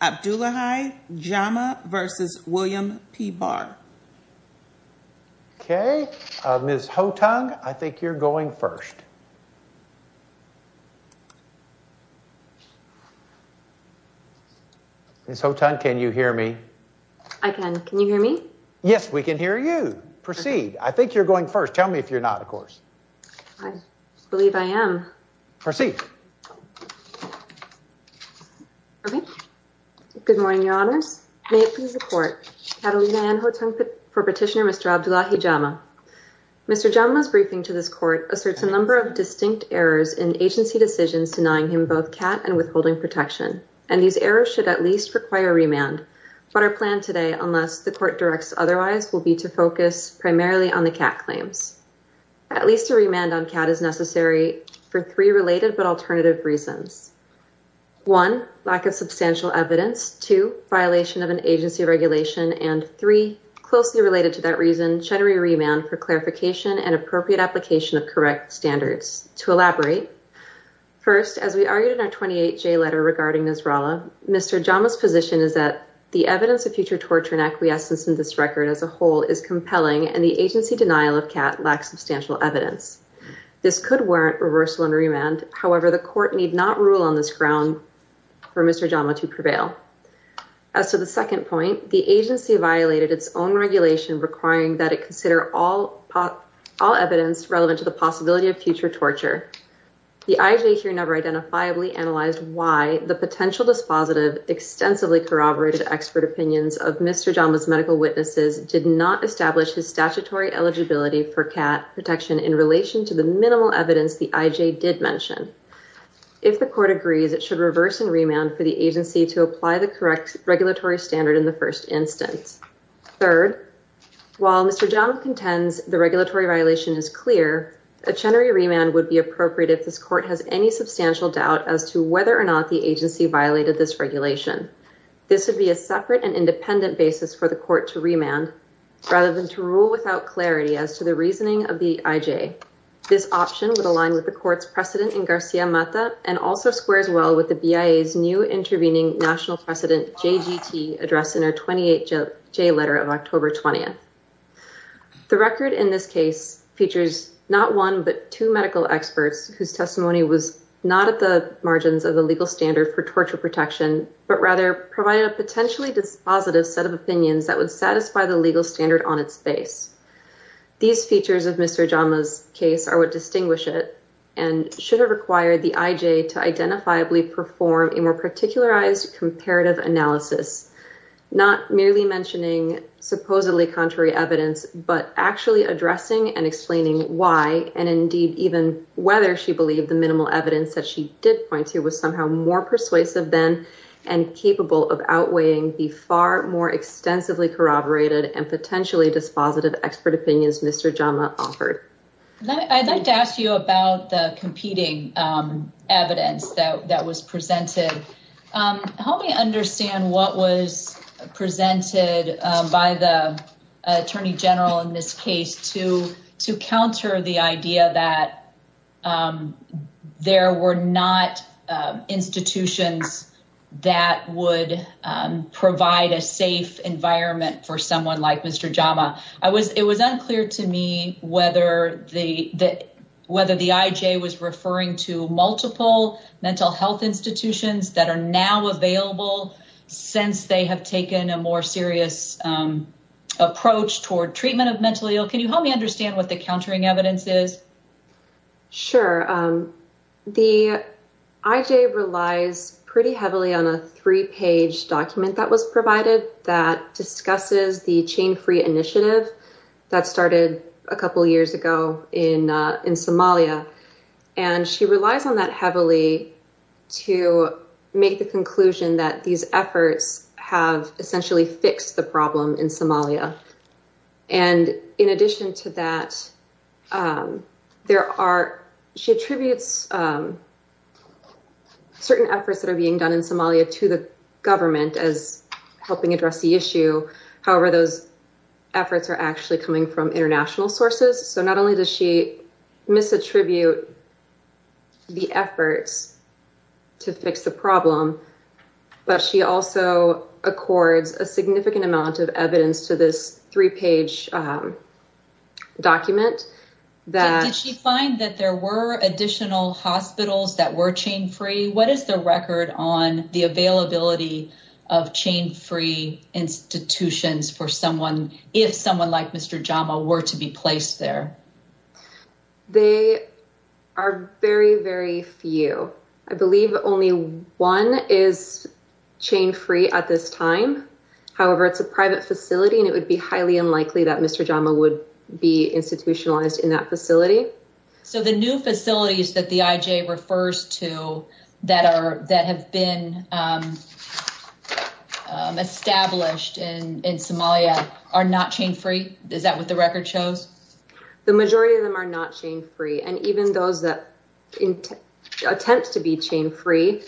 Abdullahi Jama v. William P. Barr Okay, Ms. Hotung, I think you're going first. Ms. Hotung, can you hear me? I can. Can you hear me? Yes, we can hear you. Proceed. I think you're going first. Tell me if you're not, of course. I believe I am. Proceed. Okay. Good morning, Your Honors. May it please the Court. Catalina Anne Hotung for Petitioner Mr. Abdullahi Jama. Mr. Jamale's briefing to this Court asserts a number of distinct errors in agency decisions denying him both CAT and withholding protection, and these errors should at least require remand. But our plan today, unless the Court directs otherwise, will be to focus primarily on the CAT claims. At least a remand on CAT is necessary for three related but alternative reasons. One, lack of substantial evidence. Two, violation of an agency regulation. And three, closely related to that reason, cheddary remand for clarification and appropriate application of correct standards. To elaborate, first, as we argued in our 28-J letter regarding Nisrallah, Mr. Jama's position is that the evidence of future torture and acquiescence in this record as a whole is compelling, and the agency denial of CAT lacks substantial evidence. This could warrant reversal and remand. However, the Court need not rule on this ground for Mr. Jama to prevail. As to the second point, the agency violated its own regulation requiring that it consider all evidence relevant to the possibility of future torture. The IJ here never identifiably analyzed why the potential dispositive, extensively corroborated expert opinions of Mr. Jama's medical witnesses did not establish his statutory eligibility for protection in relation to the minimal evidence the IJ did mention. If the Court agrees, it should reverse and remand for the agency to apply the correct regulatory standard in the first instance. Third, while Mr. Jama contends the regulatory violation is clear, a cheddary remand would be appropriate if this Court has any substantial doubt as to whether or not the agency violated this regulation. This would be a separate and independent basis for the Court to remand, rather than to rule without clarity as to the reasoning of the IJ. This option would align with the Court's precedent in Garcia Mata and also squares well with the BIA's new intervening national precedent, JGT, addressed in our 28J letter of October 20th. The record in this case features not one but two medical experts whose testimony was not at the margins of the legal standard for torture protection, but rather provided a set of opinions that would satisfy the legal standard on its base. These features of Mr. Jama's case are what distinguish it and should have required the IJ to identifiably perform a more particularized comparative analysis, not merely mentioning supposedly contrary evidence, but actually addressing and explaining why and indeed even whether she believed the minimal evidence that she did point to was somehow more persuasive then and capable of outweighing the far more extensively corroborated and potentially dispositive expert opinions Mr. Jama offered. I'd like to ask you about the competing evidence that was presented. Help me understand what was not institutions that would provide a safe environment for someone like Mr. Jama. It was unclear to me whether the IJ was referring to multiple mental health institutions that are now available since they have taken a more serious approach toward treatment of mental ill. Can you help me understand what the countering evidence is? Sure. The IJ relies pretty heavily on a three-page document that was provided that discusses the chain-free initiative that started a couple years ago in Somalia, and she relies on that heavily to make the conclusion that these efforts have essentially fixed the problem in Somalia. In addition to that, she attributes certain efforts that are being done in Somalia to the government as helping address the issue. However, those efforts are actually coming from international sources, so not only does she amount of evidence to this three-page document. Did she find that there were additional hospitals that were chain-free? What is the record on the availability of chain-free institutions if someone like Mr. Jama were to be placed there? They are very, very few. I believe only one is chain-free at this time. However, it's a private facility and it would be highly unlikely that Mr. Jama would be institutionalized in that facility. So the new facilities that the IJ refers to that have been established in Somalia are not chain-free? Is that what the record shows? The majority of them are not chain-free, and even those that attempt to be chain-free,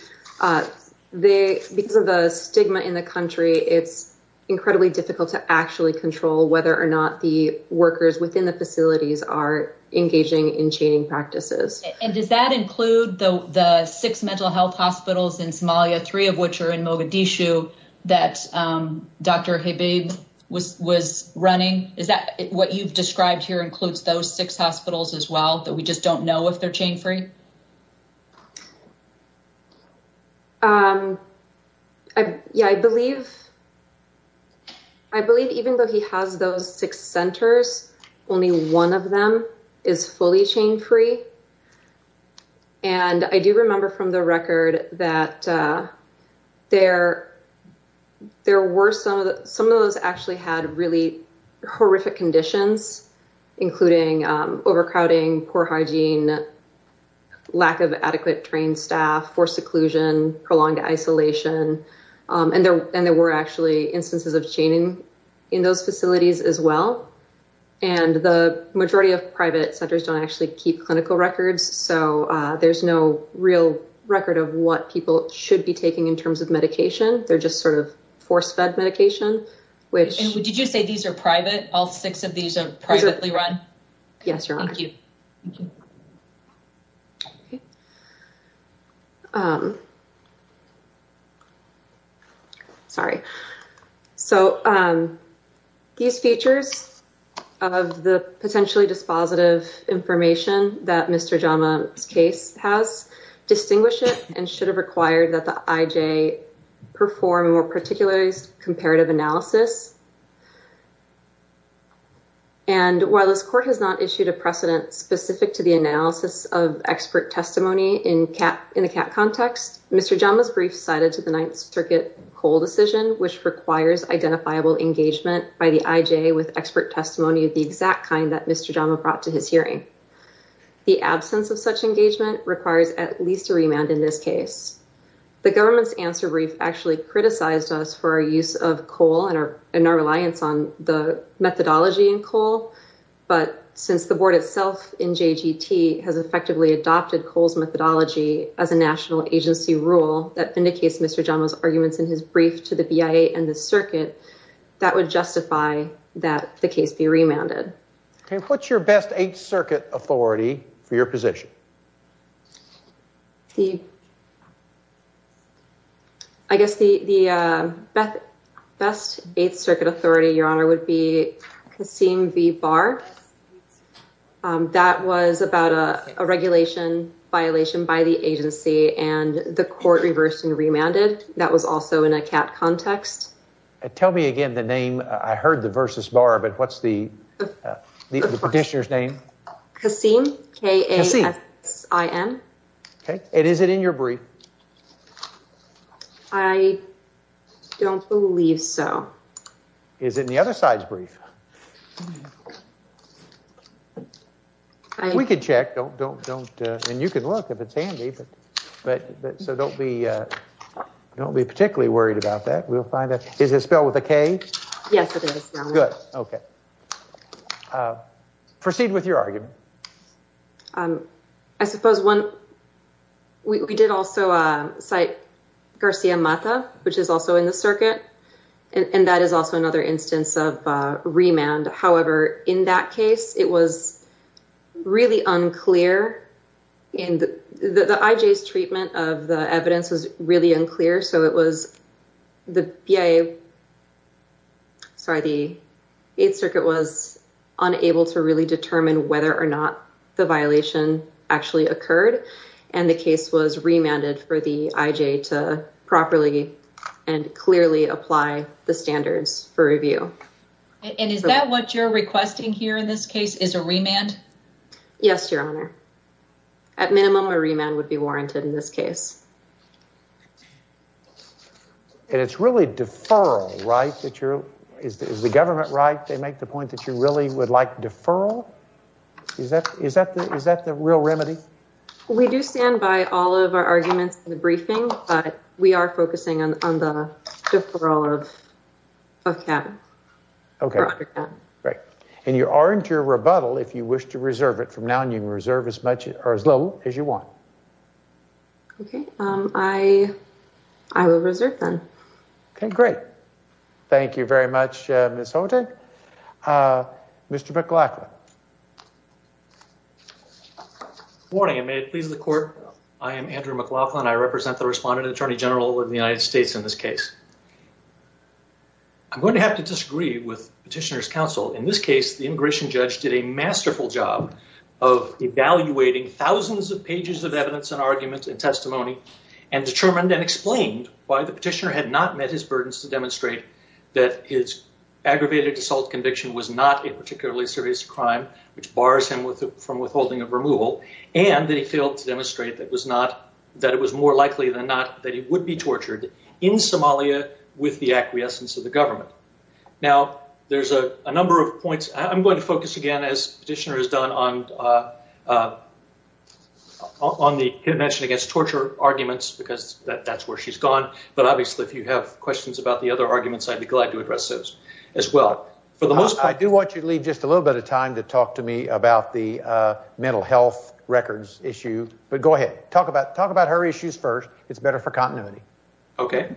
because of the stigma in the country, it's incredibly difficult to actually control whether or not the workers within the facilities are engaging in chaining practices. And does that include the six mental health hospitals in Somalia, three of which are in six hospitals as well, that we just don't know if they're chain-free? Yeah, I believe even though he has those six centers, only one of them is fully chain-free. And I do remember from the record that some of those actually had really horrific conditions, including overcrowding, poor hygiene, lack of adequate trained staff, forced seclusion, prolonged isolation. And there were actually instances of chaining in those facilities as well. And the majority of private centers don't actually keep clinical records, so there's no real record of what people should be taking in terms of medication. They're just sort of force-fed medication. And did you say these are private? All six of these are privately run? Yes, Your Honor. Thank you. Sorry. So these features of the potentially dispositive information that Mr. Jama's case has distinguish it and should have required that the IJ perform a more particularized comparative analysis. And while this court has not issued a precedent specific to the analysis of expert testimony in the CAT context, Mr. Jama's brief cited to the Ninth Circuit COLE decision, which requires identifiable engagement by the IJ with expert testimony of the exact kind that Mr. Jama brought to his hearing. The absence of such engagement requires at least a remand in this case. The government's answer brief actually criticized us for our use of COLE and our reliance on the methodology in COLE. But since the board itself in JGT has effectively adopted COLE's methodology as a national agency rule that indicates Mr. Jama's arguments in his brief to the BIA and the circuit, that would justify that the case be remanded. Okay. What's your best circuit authority for your position? I guess the best eighth circuit authority, Your Honor, would be Kassim v. Barr. That was about a regulation violation by the agency and the court reversed and remanded. That was also in a CAT context. Tell me again the name. I heard the versus bar, but what's the petitioner's name? Kassim. K-A-S-S-I-M. Okay. And is it in your brief? I don't believe so. Is it in the other side's brief? We could check. Don't, don't, don't. And you can look if it's handy, but so don't be, don't be particularly worried about that. We'll find out. Is it spelled with a K? Yes, it is, Your Honor. Good. Okay. Proceed with your argument. I suppose one, we did also cite Garcia Mata, which is also in the circuit, and that is also another instance of a remand. However, in that case, it was really unclear in the, the IJ's sorry, the Eighth Circuit was unable to really determine whether or not the violation actually occurred. And the case was remanded for the IJ to properly and clearly apply the standards for review. And is that what you're requesting here in this case is a remand? Yes, Your Honor. At minimum, a remand would be warranted in this case. And it's really deferral, right, that you're, is the government right to make the point that you really would like deferral? Is that, is that the, is that the real remedy? We do stand by all of our arguments in the briefing, but we are focusing on, on the deferral of CAB. Okay, great. And you aren't your rebuttal if you wish to reserve it from now on. You can reserve as much or as little as you want. Okay. I, I will reserve then. Okay, great. Thank you very much, Ms. Houghton. Mr. McLaughlin. Good morning, and may it please the Court. I am Andrew McLaughlin. I represent the Respondent Attorney General of the United States in this case. I'm going to have to disagree with Petitioner's Counsel. In this case, the immigration judge did a masterful job of evaluating thousands of pages of evidence and arguments and testimony, and determined and explained why the petitioner had not met his burdens to demonstrate that his aggravated assault conviction was not a particularly serious crime, which bars him from withholding of removal, and that he failed to demonstrate that it was not, that it was more likely than not that he would be tortured in Somalia with the acquiescence of the victim. I'm going to focus again, as Petitioner has done, on the intervention against torture arguments, because that's where she's gone. But obviously, if you have questions about the other arguments, I'd be glad to address those as well. For the most part... I do want you to leave just a little bit of time to talk to me about the mental health records issue, but go ahead. Talk about her issues first. It's better for continuity. Okay.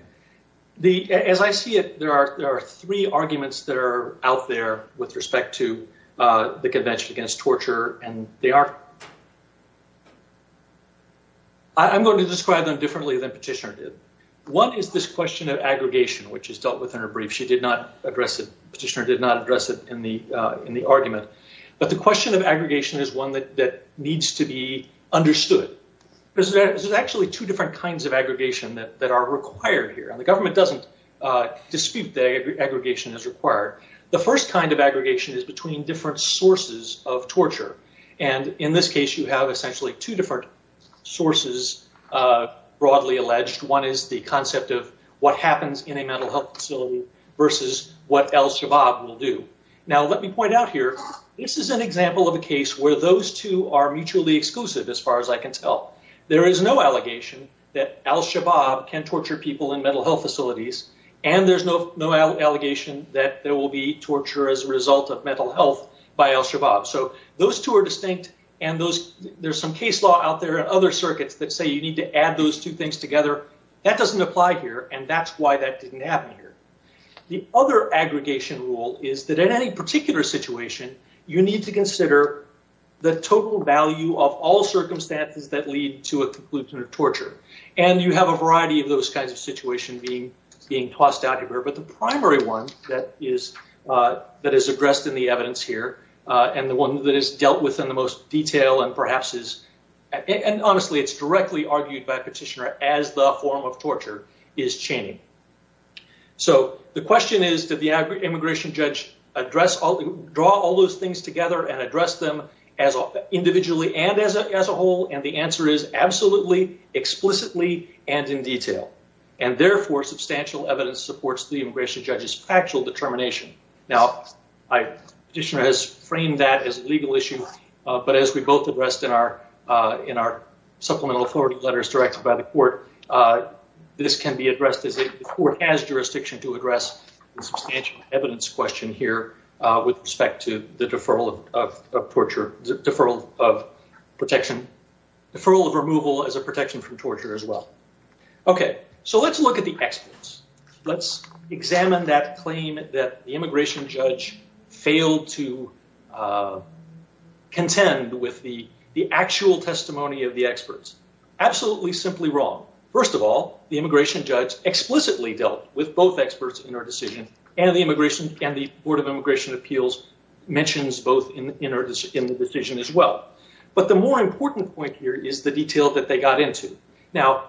As I see it, there are three arguments that are out there with respect to the Convention Against Torture, and they are... I'm going to describe them differently than Petitioner did. One is this question of aggregation, which is dealt with in her brief. She did not address it, Petitioner did not address it in the argument. But the question of aggregation is one that are required here, and the government doesn't dispute that aggregation is required. The first kind of aggregation is between different sources of torture. In this case, you have essentially two different sources, broadly alleged. One is the concept of what happens in a mental health facility versus what Al-Shabaab will do. Now, let me point out here, this is an example of a case where those two are mutually exclusive, as far as I can tell. There is no allegation that Al-Shabaab can torture people in mental health facilities, and there's no allegation that there will be torture as a result of mental health by Al-Shabaab. So those two are distinct, and there's some case law out there and other circuits that say you need to add those two things together. That doesn't apply here, and that's why that didn't happen here. The other aggregation rule is that in any particular situation, you need to consider the total value of all circumstances that lead to a conclusion of torture. And you have a variety of those kinds of situations being tossed out here, but the primary one that is addressed in the evidence here, and the one that is dealt with in the most detail and perhaps is, and honestly, it's directly argued by a petitioner as the form of torture, is chaining. So the question is, immigration judge, draw all those things together and address them individually and as a whole, and the answer is absolutely, explicitly, and in detail. And therefore, substantial evidence supports the immigration judge's factual determination. Now, petitioner has framed that as a legal issue, but as we both addressed in our supplemental authority letters directed by the court, this can be addressed as a court has jurisdiction to address the substantial evidence question here with respect to the deferral of removal as a protection from torture as well. Okay, so let's look at the experts. Let's examine that claim that the immigration judge failed to contend with the actual testimony of the experts. Absolutely simply wrong. First of all, the immigration judge explicitly dealt with both experts in our decision, and the board of immigration appeals mentions both in the decision as well. But the more important point here is the detail that they got into. Now,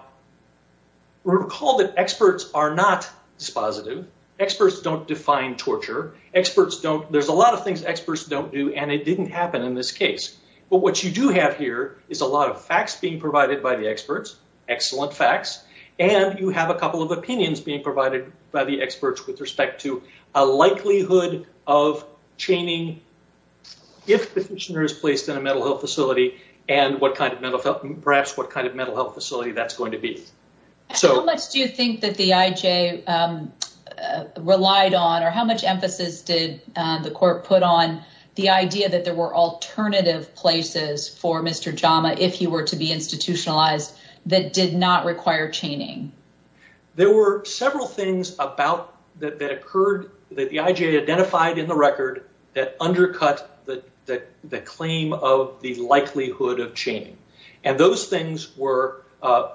recall that experts are not dispositive. Experts don't define torture. There's a lot of things experts don't do, and it didn't happen in this case. But what you do have here is a lot of facts being provided by the experts, excellent facts, and you have a couple of opinions being provided by the experts with respect to a likelihood of chaining if the petitioner is placed in a mental health facility and perhaps what kind of mental health facility that's going to be. How much do you think that the IJ relied on, or how much emphasis did the court put on the idea that there were alternative places for Mr. Jama if he were to be institutionalized that did not require chaining? There were several things that occurred that the IJ identified in the record that undercut the claim of the likelihood of chaining. And those things were,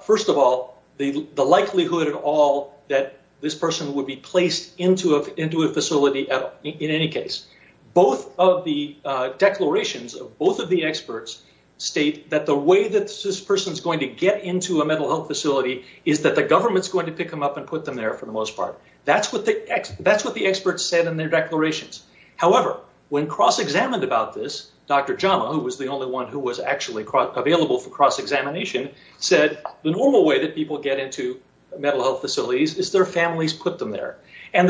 first of all, the likelihood at all that this person would be placed into a facility at all, in any case. Both of the declarations of both of the experts state that the way that this person's going to get into a mental health facility is that the government's going to pick them up and put them there for the most part. That's what the experts said in their declarations. However, when cross-examined about this, Dr. Jama, who was the only one who was actually available for cross-examination, said the normal way that people get into mental health facilities is their families put them there. And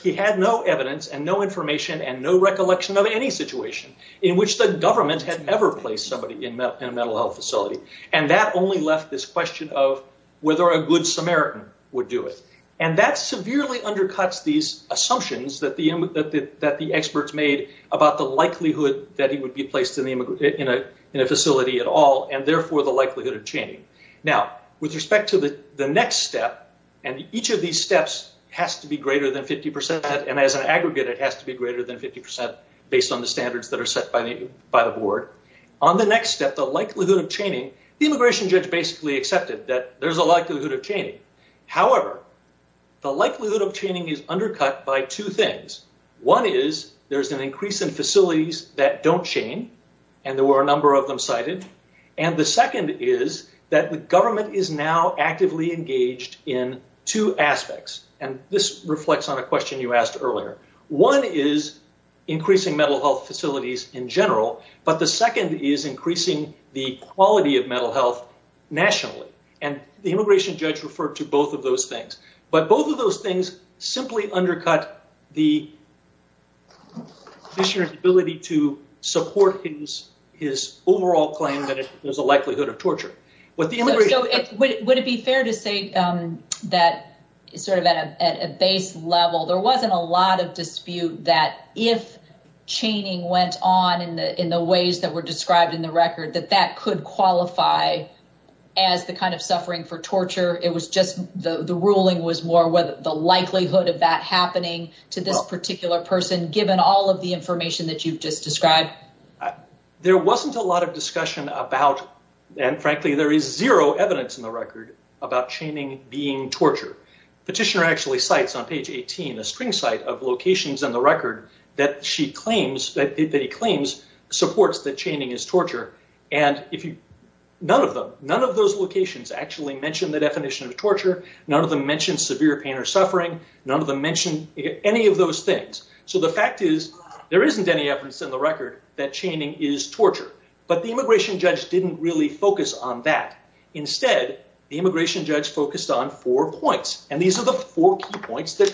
he had no evidence and no information and no recollection of any situation in which the government had ever placed somebody in a mental health facility. And that only left this question of whether a good Samaritan would do it. And that severely undercuts these assumptions that the experts made about the likelihood that he would be placed in a facility at all, and therefore, the likelihood of chaining. Now, with respect to the next step, and each of these steps has to be greater than 50%, and as an aggregate, it has to be greater than 50% based on the standards that are set by the board. On the next step, the likelihood of chaining, the immigration judge basically accepted that there's a likelihood of chaining. However, the likelihood of chaining is undercut by two things. One is there's an increase in facilities that don't chain, and there were a number of them cited. And the second is that the government is now actively engaged in two aspects. And this reflects on a question you asked earlier. One is increasing mental health facilities in general, but the second is increasing the quality of mental health nationally. And the immigration judge referred to both of those things. But both of those things simply undercut the commissioner's ability to support his overall claim that there's a likelihood of torture. Would it be fair to say that sort of at a base level, there wasn't a lot of dispute that if chaining went on in the ways that were described in the record, that that could qualify as the kind of suffering for torture? It was just the ruling was more whether the likelihood of that happening to this particular person, given all of the information that you've just described? There wasn't a lot of discussion about, and frankly, there is zero evidence in the record about chaining being torture. Petitioner actually cites on page 18, a string site of none of them. None of those locations actually mention the definition of torture. None of them mention severe pain or suffering. None of them mention any of those things. So the fact is, there isn't any evidence in the record that chaining is torture. But the immigration judge didn't really focus on that. Instead, the immigration judge focused on four points. And these are the four key points that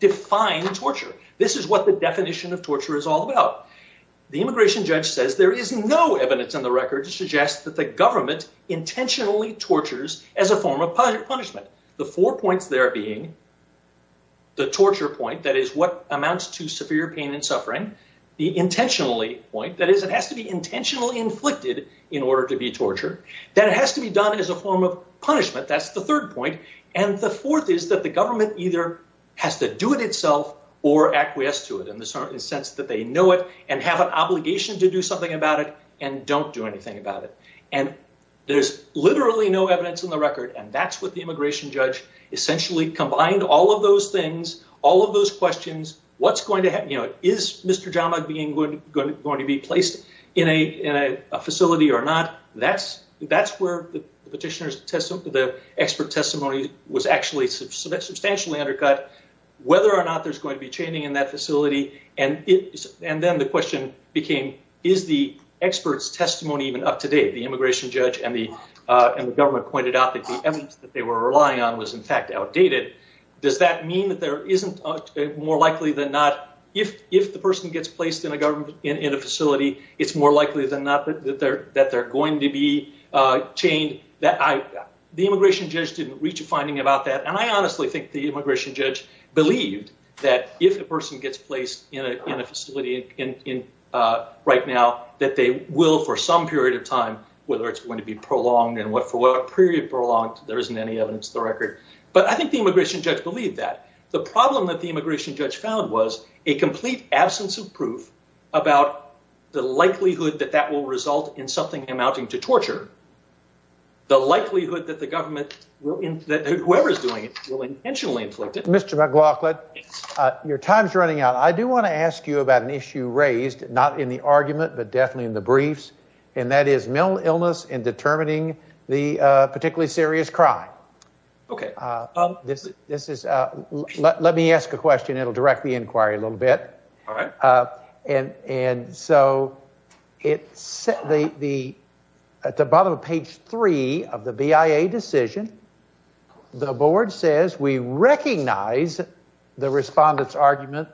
define torture. This is what the definition of torture is all about. The immigration judge says there is no evidence in the record to suggest that the government intentionally tortures as a form of punishment. The four points there being the torture point, that is what amounts to severe pain and suffering. The intentionally point, that is, it has to be intentionally inflicted in order to be torture. That has to be done as a form of punishment. That's the third point. And the fourth is that the government either has to do it itself or acquiesce to it in the sense that they know it and have an obligation to do something about it and don't do anything about it. And there's literally no evidence in the record. And that's what the immigration judge essentially combined. All of those things, all of those questions, what's going to happen, you know, is Mr. Jama being going to be placed in a facility or not? That's where the petitioner's testimony, the expert testimony was actually substantially undercut, whether or not there's going to be chaining in that facility. And then the question became, is the expert's testimony even up to date? The immigration judge and the government pointed out that the evidence that they were relying on was in fact outdated. Does that mean that there isn't more likely than not, if the person gets placed in a facility, it's more likely than not that they're going to be chained? The immigration judge didn't reach a finding about that. And I honestly think the immigration judge believed that if a person gets placed in a facility right now, that they will for some period of time, whether it's going to be prolonged and for what period prolonged, there isn't any evidence of the record. But I think the immigration judge believed that. The problem that the immigration judge found was a complete absence of proof about the likelihood that that will result in something amounting to torture. The likelihood that the government will, whoever is doing it, will intentionally inflict it. Mr. McLaughlin, your time's running out. I do want to ask you about an issue raised, not in the argument, but definitely in the briefs, and that is mental illness in determining the particularly serious crime. Okay. This is, let me ask a question. It'll direct the inquiry a little bit. All right. And so, at the bottom of page three of the BIA decision, the board says, we recognize the respondent's argument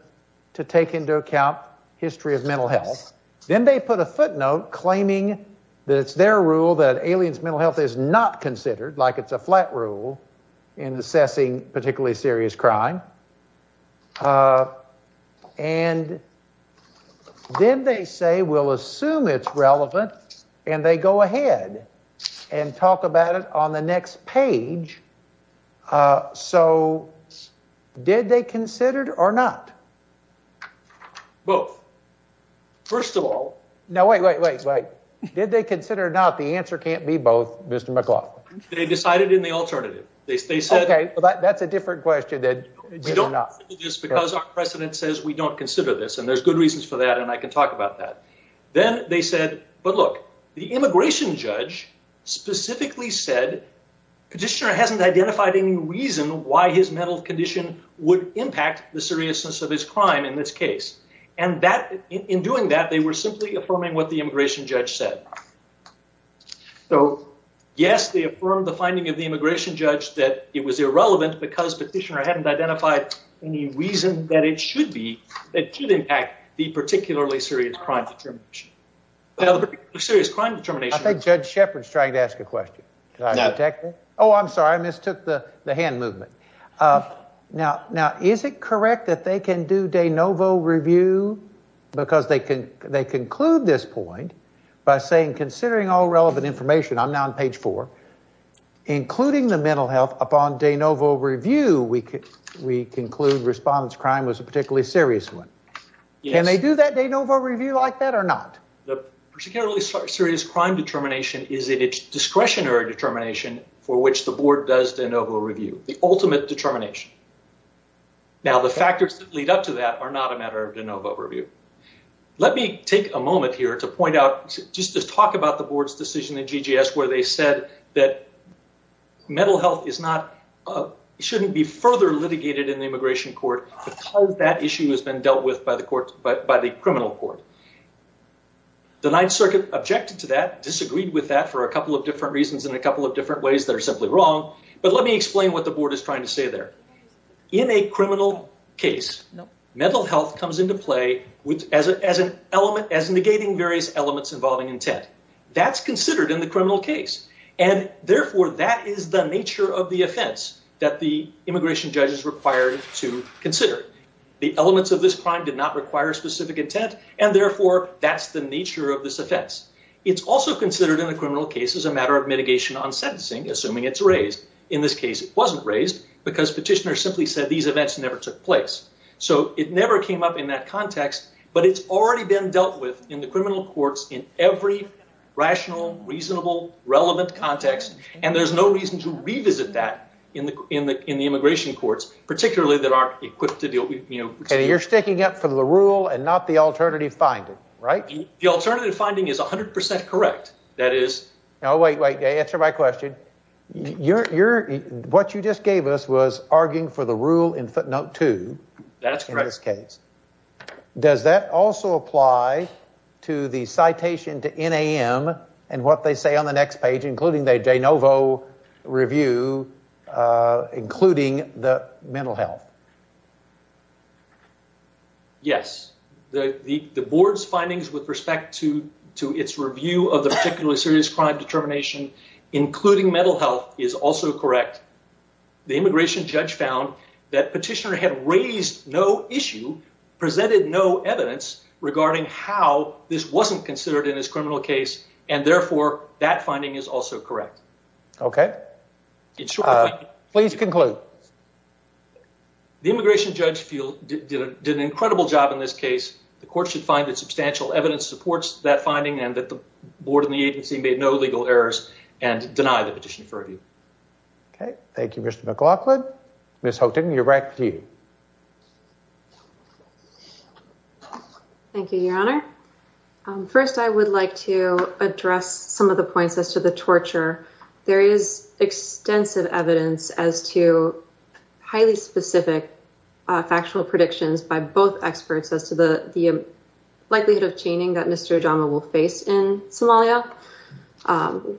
to take into account history of mental health. Then they put a footnote claiming that it's their rule that aliens' mental health is not considered, like it's a flat rule in assessing particularly serious crime. And then they say, we'll assume it's relevant, and they go ahead and talk about it on the next page. So, did they consider it or not? Both. First of all... Wait, wait, wait, wait. Did they consider it or not? The answer can't be both, Mr. McLaughlin. They decided in the alternative. They said... Okay, that's a different question than whether or not. Just because our precedent says we don't consider this, and there's good reasons for that, and I can talk about that. Then they said, but look, the immigration judge specifically said the petitioner hasn't identified any reason why his mental condition would impact the seriousness of his crime in this case. And in doing that, they were simply affirming what the immigration judge said. So, yes, they affirmed the finding of the immigration judge that it was irrelevant because petitioner hadn't identified any reason that it should impact the particularly serious crime determination. I think Judge Shepard's trying to ask a question. Oh, I'm sorry. I can't hear you. The particularly serious crime determination is in its discretionary determination for which the board does de novo review, the ultimate determination. Now, the factors that are not a matter of de novo review. Let me take a moment here to point out, just to talk about the board's decision in GGS where they said that mental health is not, shouldn't be further litigated in the immigration court because that issue has been dealt with by the criminal court. The Ninth Circuit objected to that, disagreed with that for a couple of different reasons and a couple of different ways that are simply wrong. But let me explain what the board is saying. Mental health comes into play as negating various elements involving intent. That's considered in the criminal case and therefore that is the nature of the offense that the immigration judge is required to consider. The elements of this crime did not require specific intent and therefore that's the nature of this offense. It's also considered in the criminal case as a matter of mitigation on sentencing, assuming it's raised. In this case, it wasn't raised because petitioner simply said these events never took place. So it never came up in that context, but it's already been dealt with in the criminal courts in every rational, reasonable, relevant context and there's no reason to revisit that in the immigration courts, particularly that aren't equipped to deal with, you know... Okay, you're sticking up for the rule and not the alternative finding, right? The alternative finding is 100% correct. That is... Wait, wait. Answer my question. What you just gave us was arguing for the rule in footnote two. That's correct. In this case. Does that also apply to the citation to NAM and what they say on the next page, including the de novo review, including the mental health? Yes. The board's findings with respect to its review of the particularly serious crime determination, including mental health, is also correct. The immigration judge found that petitioner had raised no issue, presented no evidence regarding how this wasn't considered in his criminal case, and therefore that finding is also correct. Okay. Please conclude. The immigration judge field did an incredible job in this case. The court should find that the agency made no legal errors and deny the petition for review. Okay. Thank you, Mr. McLaughlin. Ms. Houghton, you're back to you. Thank you, Your Honor. First, I would like to address some of the points as to the torture. There is extensive evidence as to highly specific factual predictions by both experts as to the torture.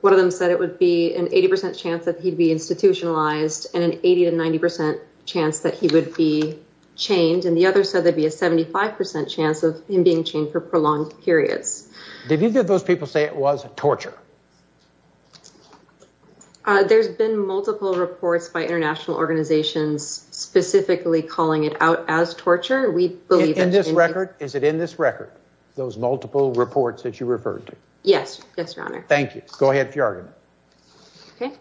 One of them said it would be an 80 percent chance that he'd be institutionalized and an 80 to 90 percent chance that he would be chained. And the other said there'd be a 75 percent chance of him being chained for prolonged periods. Did either of those people say it was torture? There's been multiple reports by international organizations specifically calling it out as torture. We believe in this record. Is it in this record, those multiple reports that you referred to? Yes. Yes, Your Honor. Thank you. Go ahead with your argument. Okay.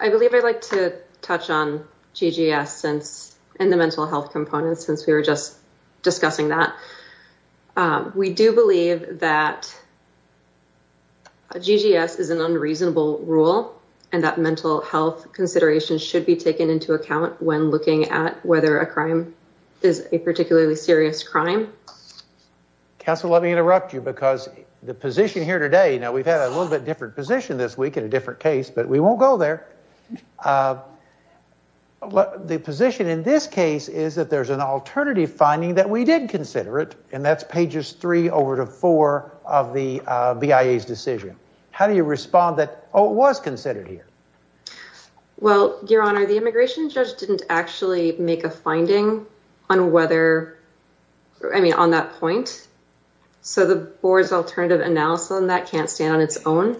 I believe I'd like to touch on GGS and the mental health components since we were just discussing that. We do believe that GGS is an unreasonable rule and that mental health considerations should be taken into account when looking at whether a crime is a particularly serious crime. Counselor, let me interrupt you because the position here today, now we've had a little bit different position this week in a different case, but we won't go there. The position in this case is that there's an alternative finding that we did consider it, and that's pages three over to four of the BIA's decision. How do you respond that, it was considered here? Well, Your Honor, the immigration judge didn't actually make a finding on whether, I mean, on that point. So the board's alternative analysis on that can't stand on its own.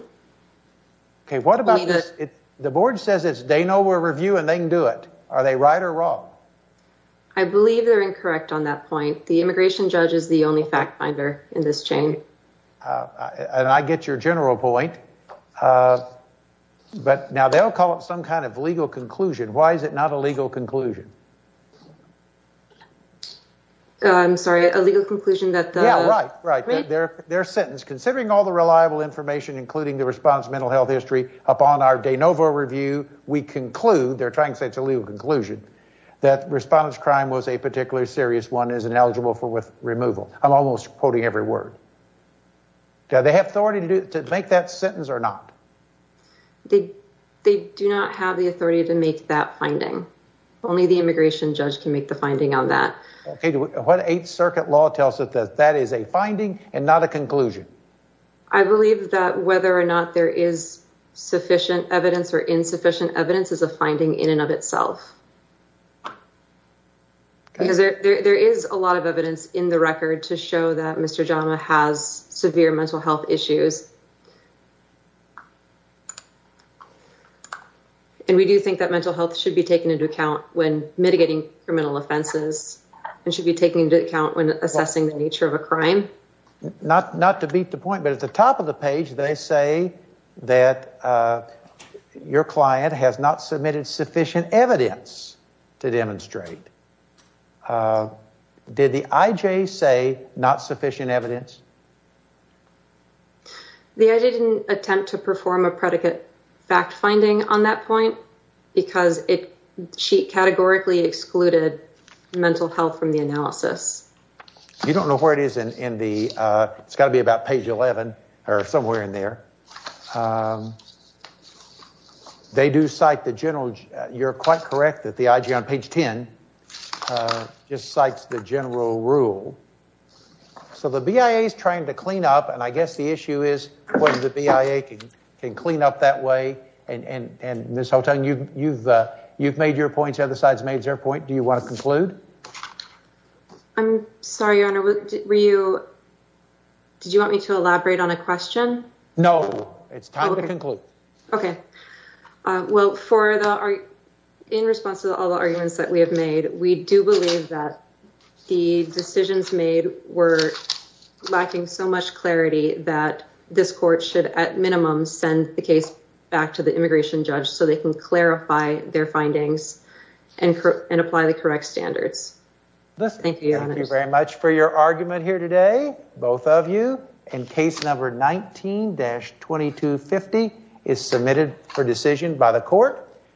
Okay. What about this? The board says it's they know we're reviewing and they can do it. Are they right or wrong? I believe they're incorrect on that point. The immigration judge is the only fact finder in this chain. And I get your general point, but now they'll call it some kind of legal conclusion. Why is it not a legal conclusion? I'm sorry, a legal conclusion that... Yeah, right, right. They're sentenced, considering all the reliable information, including the response mental health history, upon our de novo review, we conclude, they're trying to say it's a legal conclusion, that respondent's crime was a particularly serious one, is ineligible for removal. I'm almost quoting every word. Do they have authority to make that sentence or not? They do not have the authority to make that finding. Only the immigration judge can make the finding on that. Okay, what Eighth Circuit law tells us that that is a finding and not a conclusion? I believe that whether or not there is sufficient evidence or insufficient evidence is a finding in and of itself. Because there is a lot of evidence in the record to show that Mr. Jama has severe mental health issues. And we do think that mental health should be taken into account when mitigating criminal offenses and should be taken into account when assessing the nature of a crime. Not to beat the point, but at the top of the page, they say that your client has not submitted sufficient evidence to demonstrate. Did the I.J. say not sufficient evidence? The I.J. didn't attempt to perform a predicate fact finding on that point because she categorically excluded mental health from the analysis. You don't know where it is in the, it's got to be page 11 or somewhere in there. They do cite the general, you're quite correct that the I.J. on page 10 just cites the general rule. So the BIA is trying to clean up and I guess the issue is whether the BIA can clean up that way. And Ms. Houghton, you've made your point, the other side's made their point. Do you want to conclude? I'm sorry, Your Honor, were you, did you want me to elaborate on a question? No, it's time to conclude. Okay, well for the, in response to all the arguments that we have made, we do believe that the decisions made were lacking so much clarity that this court should at minimum send the case back to the immigration judge so they can clarify their and apply the correct standards. Thank you very much for your argument here today, both of you. And case number 19-2250 is submitted for decision by the court.